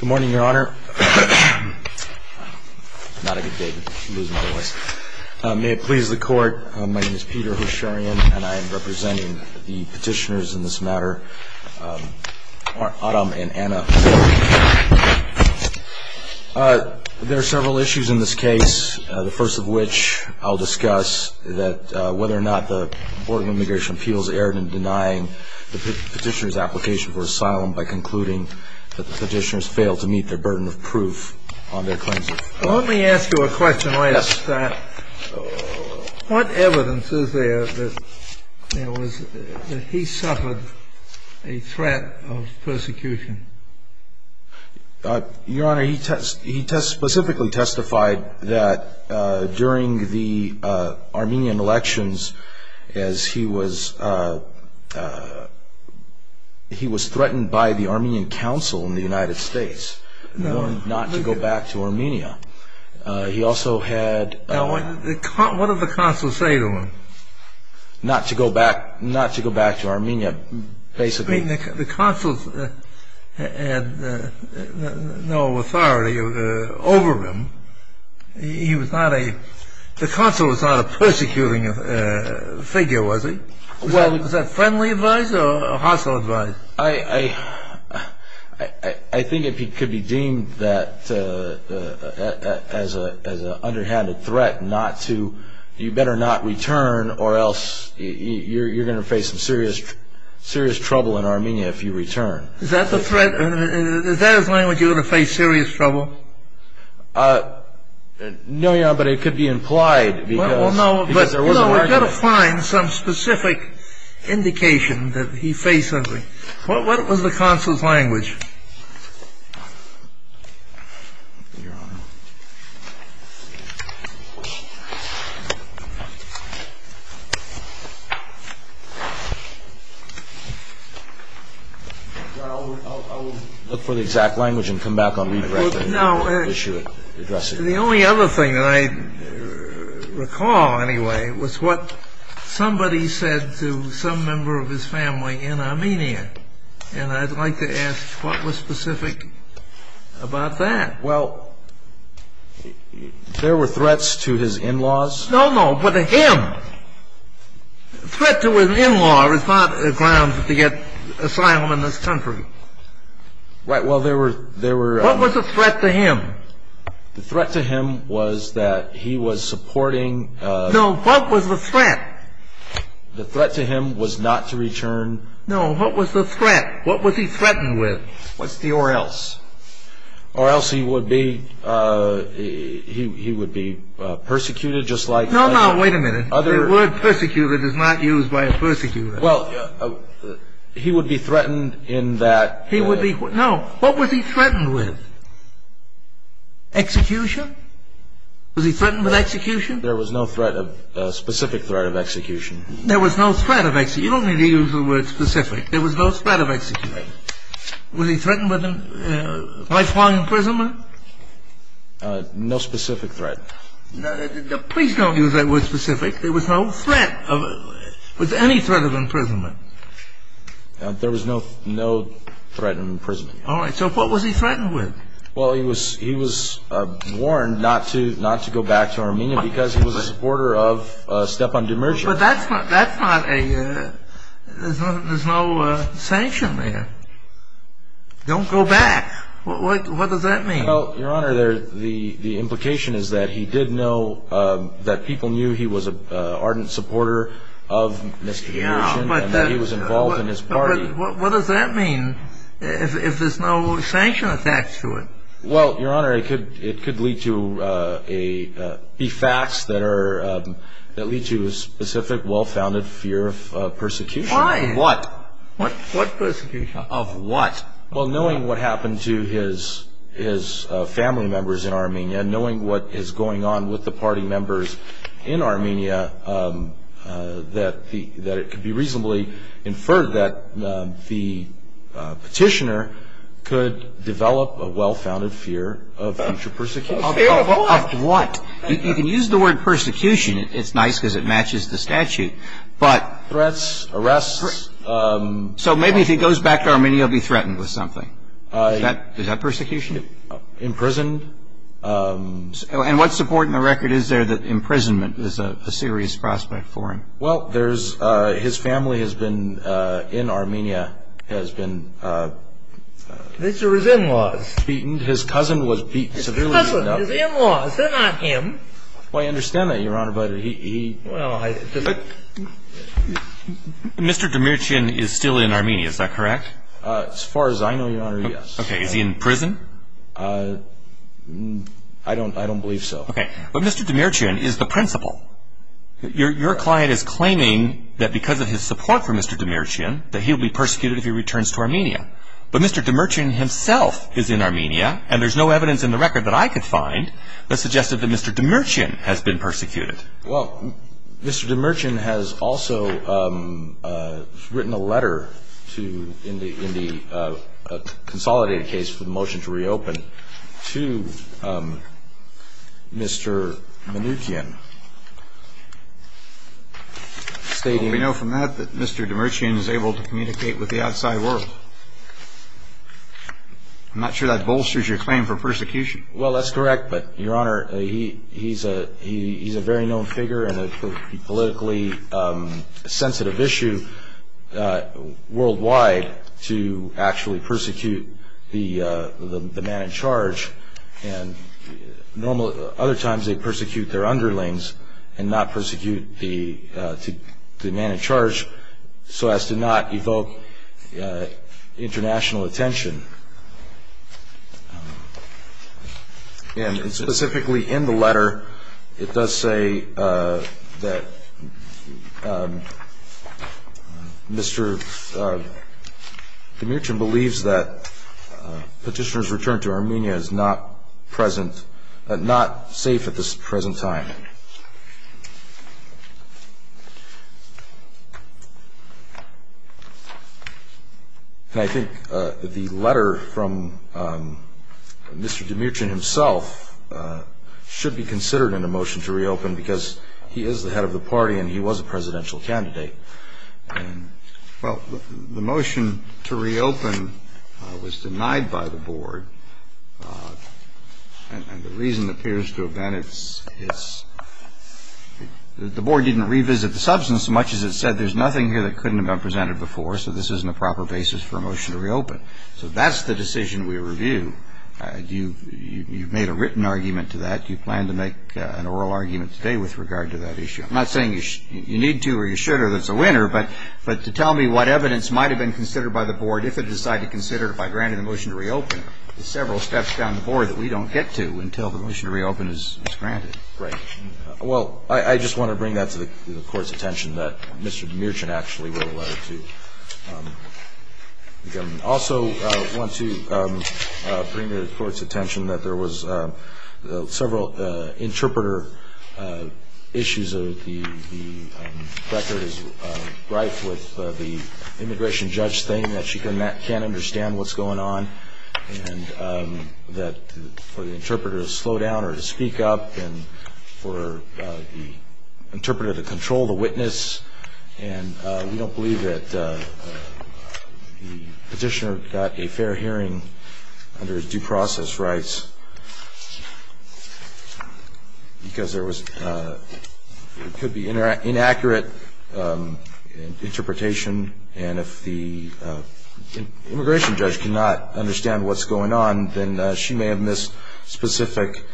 Good morning, your honor. Not a good day to lose my voice. May it please the court, my name is Peter Hosharian and I am representing the petitioners in this matter, Autumn and Anna Holder. There are several issues in this case, the first of which I'll discuss, that whether or not the Board of Immigration Appeals erred in denying the petitioners' application for asylum by concluding that the petitioners failed to meet their burden of proof on their claims of freedom. Let me ask you a question. What evidence is there that he suffered a threat of persecution? Your honor, he specifically testified that during the Armenian elections, he was threatened by the Armenian council in the United States, not to go back to Armenia. What did the council say to him? Not to go back to Armenia, basically. The council had no authority over him. The council was not a persecuting figure, was it? Was that friendly advice or hostile advice? I think it could be deemed as an underhanded threat, you better not return or else you're going to face some serious trouble in Armenia if you return. Is that the threat? Is that his language, you're going to face serious trouble? No, Your Honor, but it could be implied because there was an argument. Well, no, but, you know, we've got to find some specific indication that he faced something. What was the council's language? Your Honor, I'll look for the exact language and come back on redirecting. The only other thing that I recall, anyway, was what somebody said to some member of his family in Armenia, and I'd like to ask what was specific about that? Well, there were threats to his in-laws. No, no, but to him. Threat to an in-law is not a ground to get asylum in this country. Right, well, there were... What was the threat to him? The threat to him was that he was supporting... No, what was the threat? The threat to him was not to return... No, what was the threat? What was he threatened with? What's the or else? Or else he would be persecuted just like other... No, no, wait a minute. The word persecuted is not used by a persecutor. Well, he would be threatened in that... No, what was he threatened with? Execution? Was he threatened with execution? There was no specific threat of execution. There was no threat of execution. You don't need to use the word specific. There was no threat of execution. Was he threatened with lifelong imprisonment? No specific threat. Please don't use that word specific. There was no threat of... Was there any threat of imprisonment? There was no threat of imprisonment. All right, so what was he threatened with? Well, he was warned not to go back to Armenia because he was a supporter of Stepan Demirci. But that's not a... There's no sanction there. Don't go back. What does that mean? Well, Your Honor, the implication is that he did know that people knew he was an ardent supporter of Mr. Demirci and that he was involved in his party. But what does that mean if there's no sanction attached to it? Well, Your Honor, it could be facts that lead to a specific, well-founded fear of persecution. Why? Of what? What persecution? Of what? Well, knowing what happened to his family members in Armenia, knowing what is going on with the party members in Armenia, that it could be reasonably inferred that the petitioner could develop a well-founded fear of future persecution. Of what? You can use the word persecution. It's nice because it matches the statute. But... Threats, arrests... So maybe if he goes back to Armenia, he'll be threatened with something. Is that persecution? Imprisoned. And what support in the record is there that imprisonment is a serious prospect for him? Well, there's... His family has been, in Armenia, has been... These are his in-laws. Beaten. His cousin was beaten severely. His cousin. His in-laws. They're not him. Well, I understand that, Your Honor, but he... Mr. Demirchian is still in Armenia. Is that correct? As far as I know, Your Honor, yes. Okay. Is he in prison? I don't believe so. Okay. But Mr. Demirchian is the principal. Your client is claiming that because of his support for Mr. Demirchian, that he'll be persecuted if he returns to Armenia. But Mr. Demirchian himself is in Armenia, and there's no evidence in the record that I could find that suggested that Mr. Demirchian has been persecuted. Well, Mr. Demirchian has also written a letter to... in the consolidated case for the motion to reopen, to Mr. Mnuchin, stating... Well, we know from that that Mr. Demirchian is able to communicate with the outside world. I'm not sure that bolsters your claim for persecution. Well, that's correct, but, Your Honor, he's a very known figure and a politically sensitive issue worldwide to actually persecute the man in charge. And other times they persecute their underlings and not persecute the man in charge so as to not evoke international attention. And specifically in the letter, it does say that Mr. Demirchian believes that petitioner's return to Armenia is not safe at this present time. And I think the letter from Mr. Demirchian himself should be considered in a motion to reopen because he is the head of the party and he was a presidential candidate. Well, the motion to reopen was denied by the board, and the reason appears to have been it's... The board didn't revisit the substance so much as it said there's nothing here that couldn't have been presented before, so this isn't a proper basis for a motion to reopen. So that's the decision we review. You've made a written argument to that. You plan to make an oral argument today with regard to that issue. I'm not saying you need to or you should or that's a winner, but to tell me what evidence might have been considered by the board if it decided to consider it by granting the motion to reopen. There's several steps down the board that we don't get to until the motion to reopen is granted. Right. Well, I just want to bring that to the court's attention that Mr. Demirchian actually wrote a letter to the government. I also want to bring to the court's attention that there was several interpreter issues. The record is rife with the immigration judge saying that she can't understand what's going on, and that for the interpreter to slow down or to speak up, and for the interpreter to control the witness. And we don't believe that the petitioner got a fair hearing under his due process rights because there could be inaccurate interpretation. And if the immigration judge cannot understand what's going on, then she may have missed specific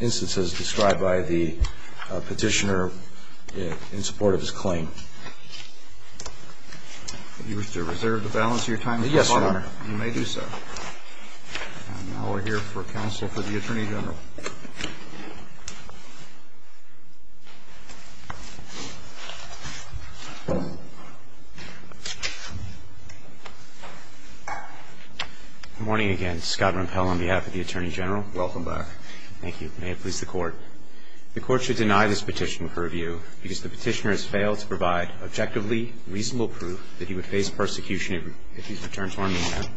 instances described by the petitioner in support of his claim. Do you wish to reserve the balance of your time? Yes, Your Honor. You may do so. Now we're here for counsel for the Attorney General. Good morning again. Scott Rompel on behalf of the Attorney General. Welcome back. Thank you. May it please the Court. The Court should deny this petition for review because the petitioner has failed to provide objectively reasonable proof that he would face persecution if he's returned to Armenia.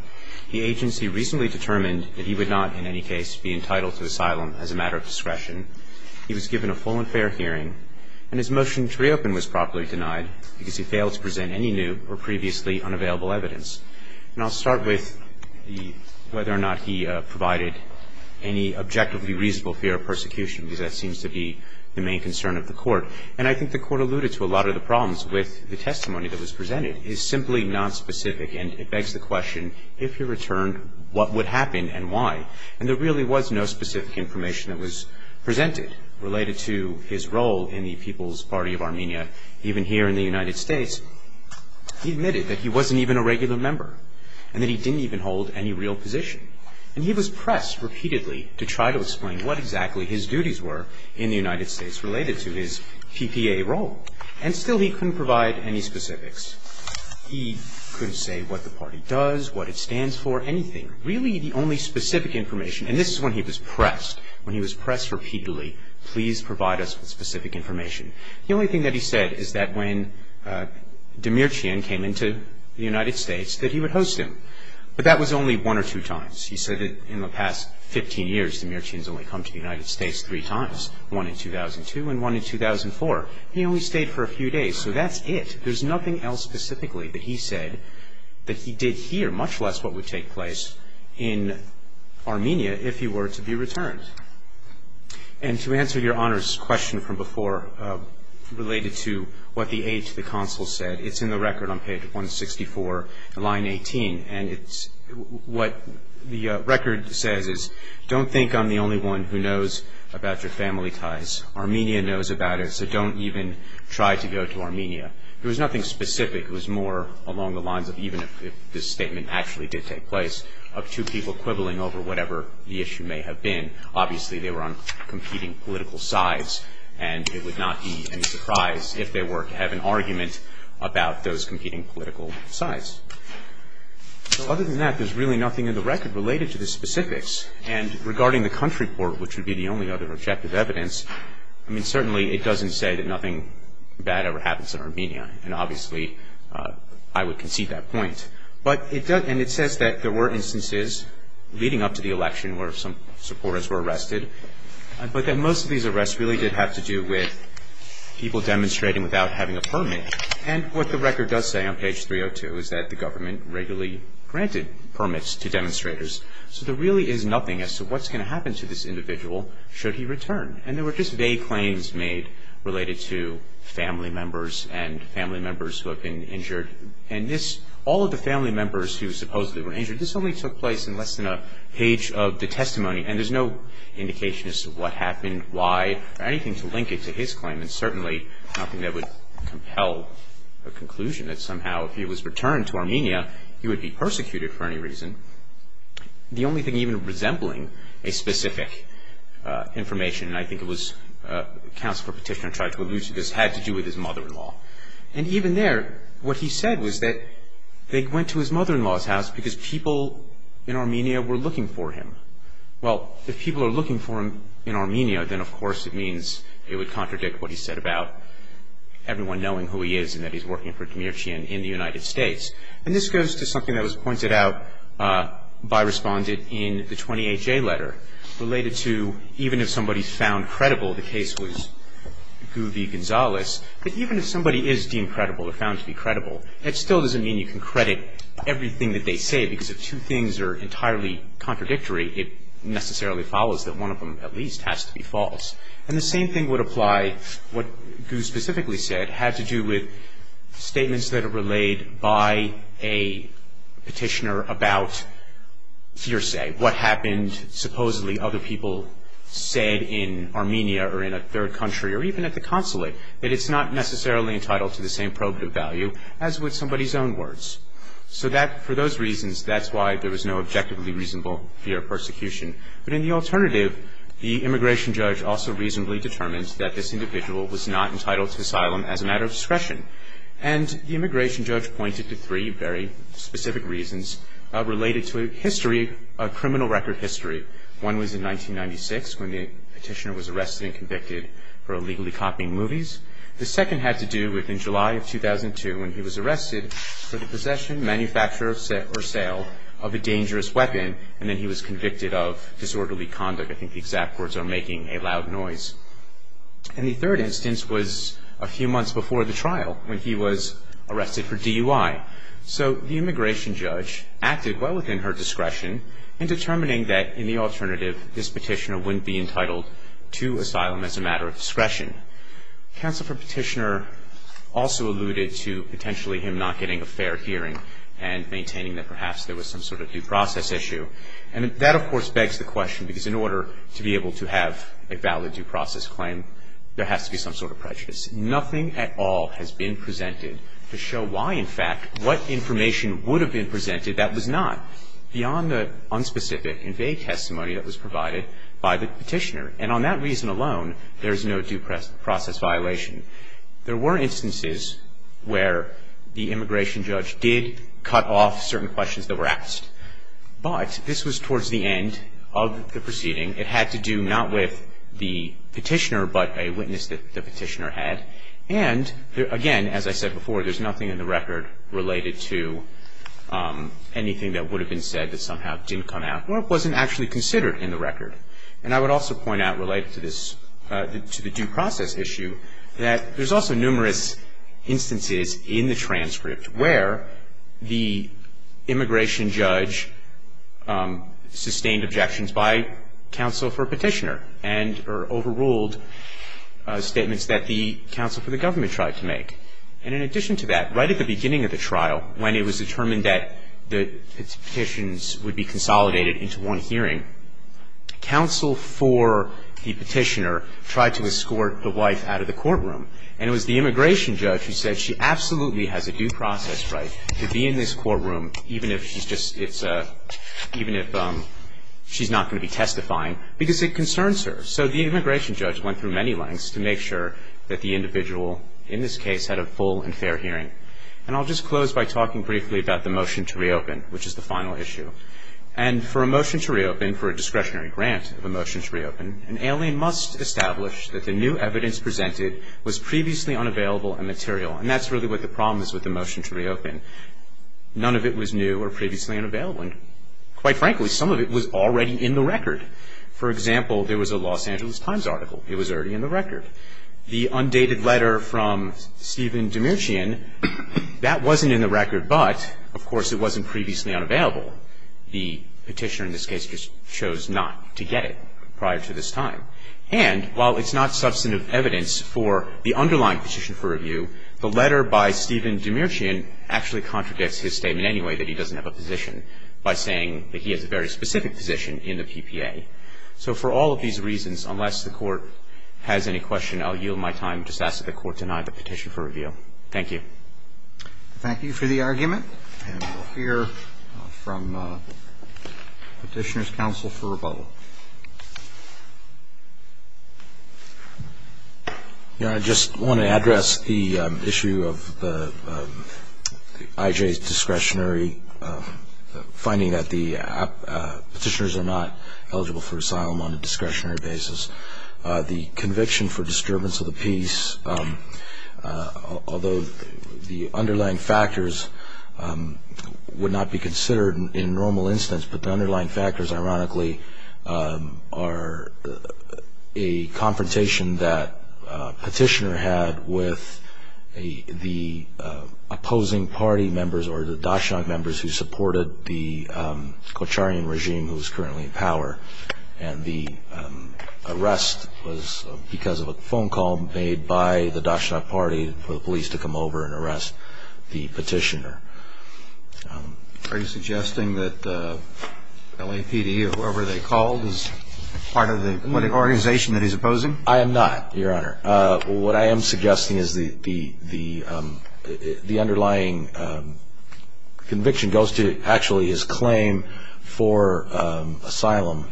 The agency recently determined that he would not in any case be entitled to asylum as a result of this petition. He was given a full and fair hearing, and his motion to reopen was properly denied because he failed to present any new or previously unavailable evidence. And I'll start with whether or not he provided any objectively reasonable fear of persecution, because that seems to be the main concern of the Court. And I think the Court alluded to a lot of the problems with the testimony that was presented. It's simply not specific, and it begs the question, if he returned, what would happen and why? And there really was no specific information that was presented related to his role in the People's Party of Armenia, even here in the United States. He admitted that he wasn't even a regular member and that he didn't even hold any real position. And he was pressed repeatedly to try to explain what exactly his duties were in the United States related to his PPA role. And still he couldn't provide any specifics. He couldn't say what the party does, what it stands for, anything. Really the only specific information, and this is when he was pressed, when he was pressed repeatedly, please provide us with specific information. The only thing that he said is that when Demirchian came into the United States, that he would host him. But that was only one or two times. He said that in the past 15 years, Demirchian has only come to the United States three times, one in 2002 and one in 2004. He only stayed for a few days. So that's it. There's nothing else specifically that he said that he did here, much less what would take place in Armenia, if he were to be returned. And to answer Your Honor's question from before related to what the aide to the consul said, it's in the record on page 164, line 18. And what the record says is, don't think I'm the only one who knows about your family ties. Armenia knows about it, so don't even try to go to Armenia. There was nothing specific. It was more along the lines of even if this statement actually did take place, of two people quibbling over whatever the issue may have been. Obviously, they were on competing political sides, and it would not be any surprise if they were to have an argument about those competing political sides. Other than that, there's really nothing in the record related to the specifics. And regarding the country port, which would be the only other objective evidence, certainly it doesn't say that nothing bad ever happens in Armenia. And obviously, I would concede that point. And it says that there were instances leading up to the election where some supporters were arrested, but that most of these arrests really did have to do with people demonstrating without having a permit. And what the record does say on page 302 is that the government regularly granted permits to demonstrators. So there really is nothing as to what's going to happen to this individual should he return. And there were just vague claims made related to family members and family members who have been injured. And all of the family members who supposedly were injured, this only took place in less than a page of the testimony. And there's no indication as to what happened, why, or anything to link it to his claim, and certainly nothing that would compel a conclusion that somehow if he was returned to Armenia, he would be persecuted for any reason. The only thing even resembling a specific information, and I think it was a counselor petitioner tried to allude to this, had to do with his mother-in-law. And even there, what he said was that they went to his mother-in-law's house because people in Armenia were looking for him. Well, if people are looking for him in Armenia, then of course it means it would contradict what he said about everyone knowing who he is and that he's working for Demircian in the United States. And this goes to something that was pointed out by Respondent in the 20HA letter, related to even if somebody's found credible the case was Gu v. Gonzalez, that even if somebody is deemed credible or found to be credible, it still doesn't mean you can credit everything that they say because if two things are entirely contradictory, it necessarily follows that one of them at least has to be false. And the same thing would apply what Gu specifically said, had to do with statements that are relayed by a petitioner about hearsay, what happened supposedly other people said in Armenia or in a third country or even at the consulate, that it's not necessarily entitled to the same probative value as with somebody's own words. So for those reasons, that's why there was no objectively reasonable fear of persecution. But in the alternative, the immigration judge also reasonably determined that this individual was not entitled to asylum as a matter of discretion. And the immigration judge pointed to three very specific reasons related to history, criminal record history. One was in 1996 when the petitioner was arrested and convicted for illegally copying movies. The second had to do with in July of 2002 when he was arrested for the possession, manufacture, or sale of a dangerous weapon and then he was convicted of disorderly conduct. I think the exact words are making a loud noise. And the third instance was a few months before the trial when he was arrested for DUI. So the immigration judge acted well within her discretion in determining that in the alternative, this petitioner wouldn't be entitled to asylum as a matter of discretion. Counsel for petitioner also alluded to potentially him not getting a fair hearing and maintaining that perhaps there was some sort of due process issue. And that, of course, begs the question because in order to be able to have a valid due process claim, there has to be some sort of prejudice. Nothing at all has been presented to show why, in fact, what information would have been presented that was not beyond the unspecific and vague testimony that was provided by the petitioner. And on that reason alone, there's no due process violation. There were instances where the immigration judge did cut off certain questions that were asked. But this was towards the end of the proceeding. It had to do not with the petitioner but a witness that the petitioner had. And, again, as I said before, there's nothing in the record related to anything that would have been said that somehow didn't come out or wasn't actually considered in the record. And I would also point out related to this, to the due process issue, that there's also numerous instances in the transcript where the immigration judge sustained objections by counsel for a petitioner and or overruled statements that the counsel for the government tried to make. And in addition to that, right at the beginning of the trial, when it was determined that the petitions would be consolidated into one hearing, counsel for the petitioner tried to escort the wife out of the courtroom. And it was the immigration judge who said she absolutely has a due process right to be in this courtroom, even if she's not going to be testifying, because it concerns her. So the immigration judge went through many lengths to make sure that the individual in this case had a full and fair hearing. And I'll just close by talking briefly about the motion to reopen, which is the final issue. And for a motion to reopen, for a discretionary grant of a motion to reopen, an alien must establish that the new evidence presented was previously unavailable and material. And that's really what the problem is with the motion to reopen. None of it was new or previously unavailable. And quite frankly, some of it was already in the record. For example, there was a Los Angeles Times article. It was already in the record. The undated letter from Stephen Demirchian, that wasn't in the record, but, of course, it wasn't previously unavailable. The Petitioner in this case just chose not to get it prior to this time. And while it's not substantive evidence for the underlying petition for review, the letter by Stephen Demirchian actually contradicts his statement anyway that he doesn't have a position by saying that he has a very specific position in the PPA. So for all of these reasons, unless the Court has any question, I'll yield my time and just ask that the Court deny the petition for review. Thank you. Thank you for the argument. And we'll hear from Petitioner's counsel for rebuttal. I just want to address the issue of the IJ's discretionary finding that the petitioners are not eligible for asylum on a discretionary basis. The conviction for disturbance of the peace, although the underlying factors would not be considered in normal instance, but the underlying factors, ironically, are a confrontation that Petitioner had with the opposing party members or the Dachshund members who supported the Kocharian regime who is currently in power. And the arrest was because of a phone call made by the Dachshund party for the police to come over and arrest the Petitioner. Are you suggesting that the LAPD or whoever they called is part of the organization that he's opposing? I am not, Your Honor. What I am suggesting is the underlying conviction goes to actually his claim for asylum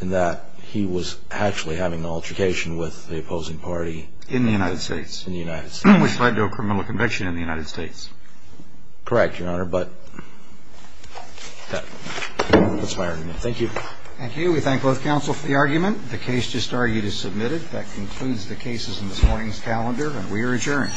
in that he was actually having an altercation with the opposing party. In the United States. In the United States. Which led to a criminal conviction in the United States. Correct, Your Honor, but that's my argument. Thank you. Thank you. We thank both counsel for the argument. The case just argued is submitted. That concludes the cases in this morning's calendar, and we are adjourned.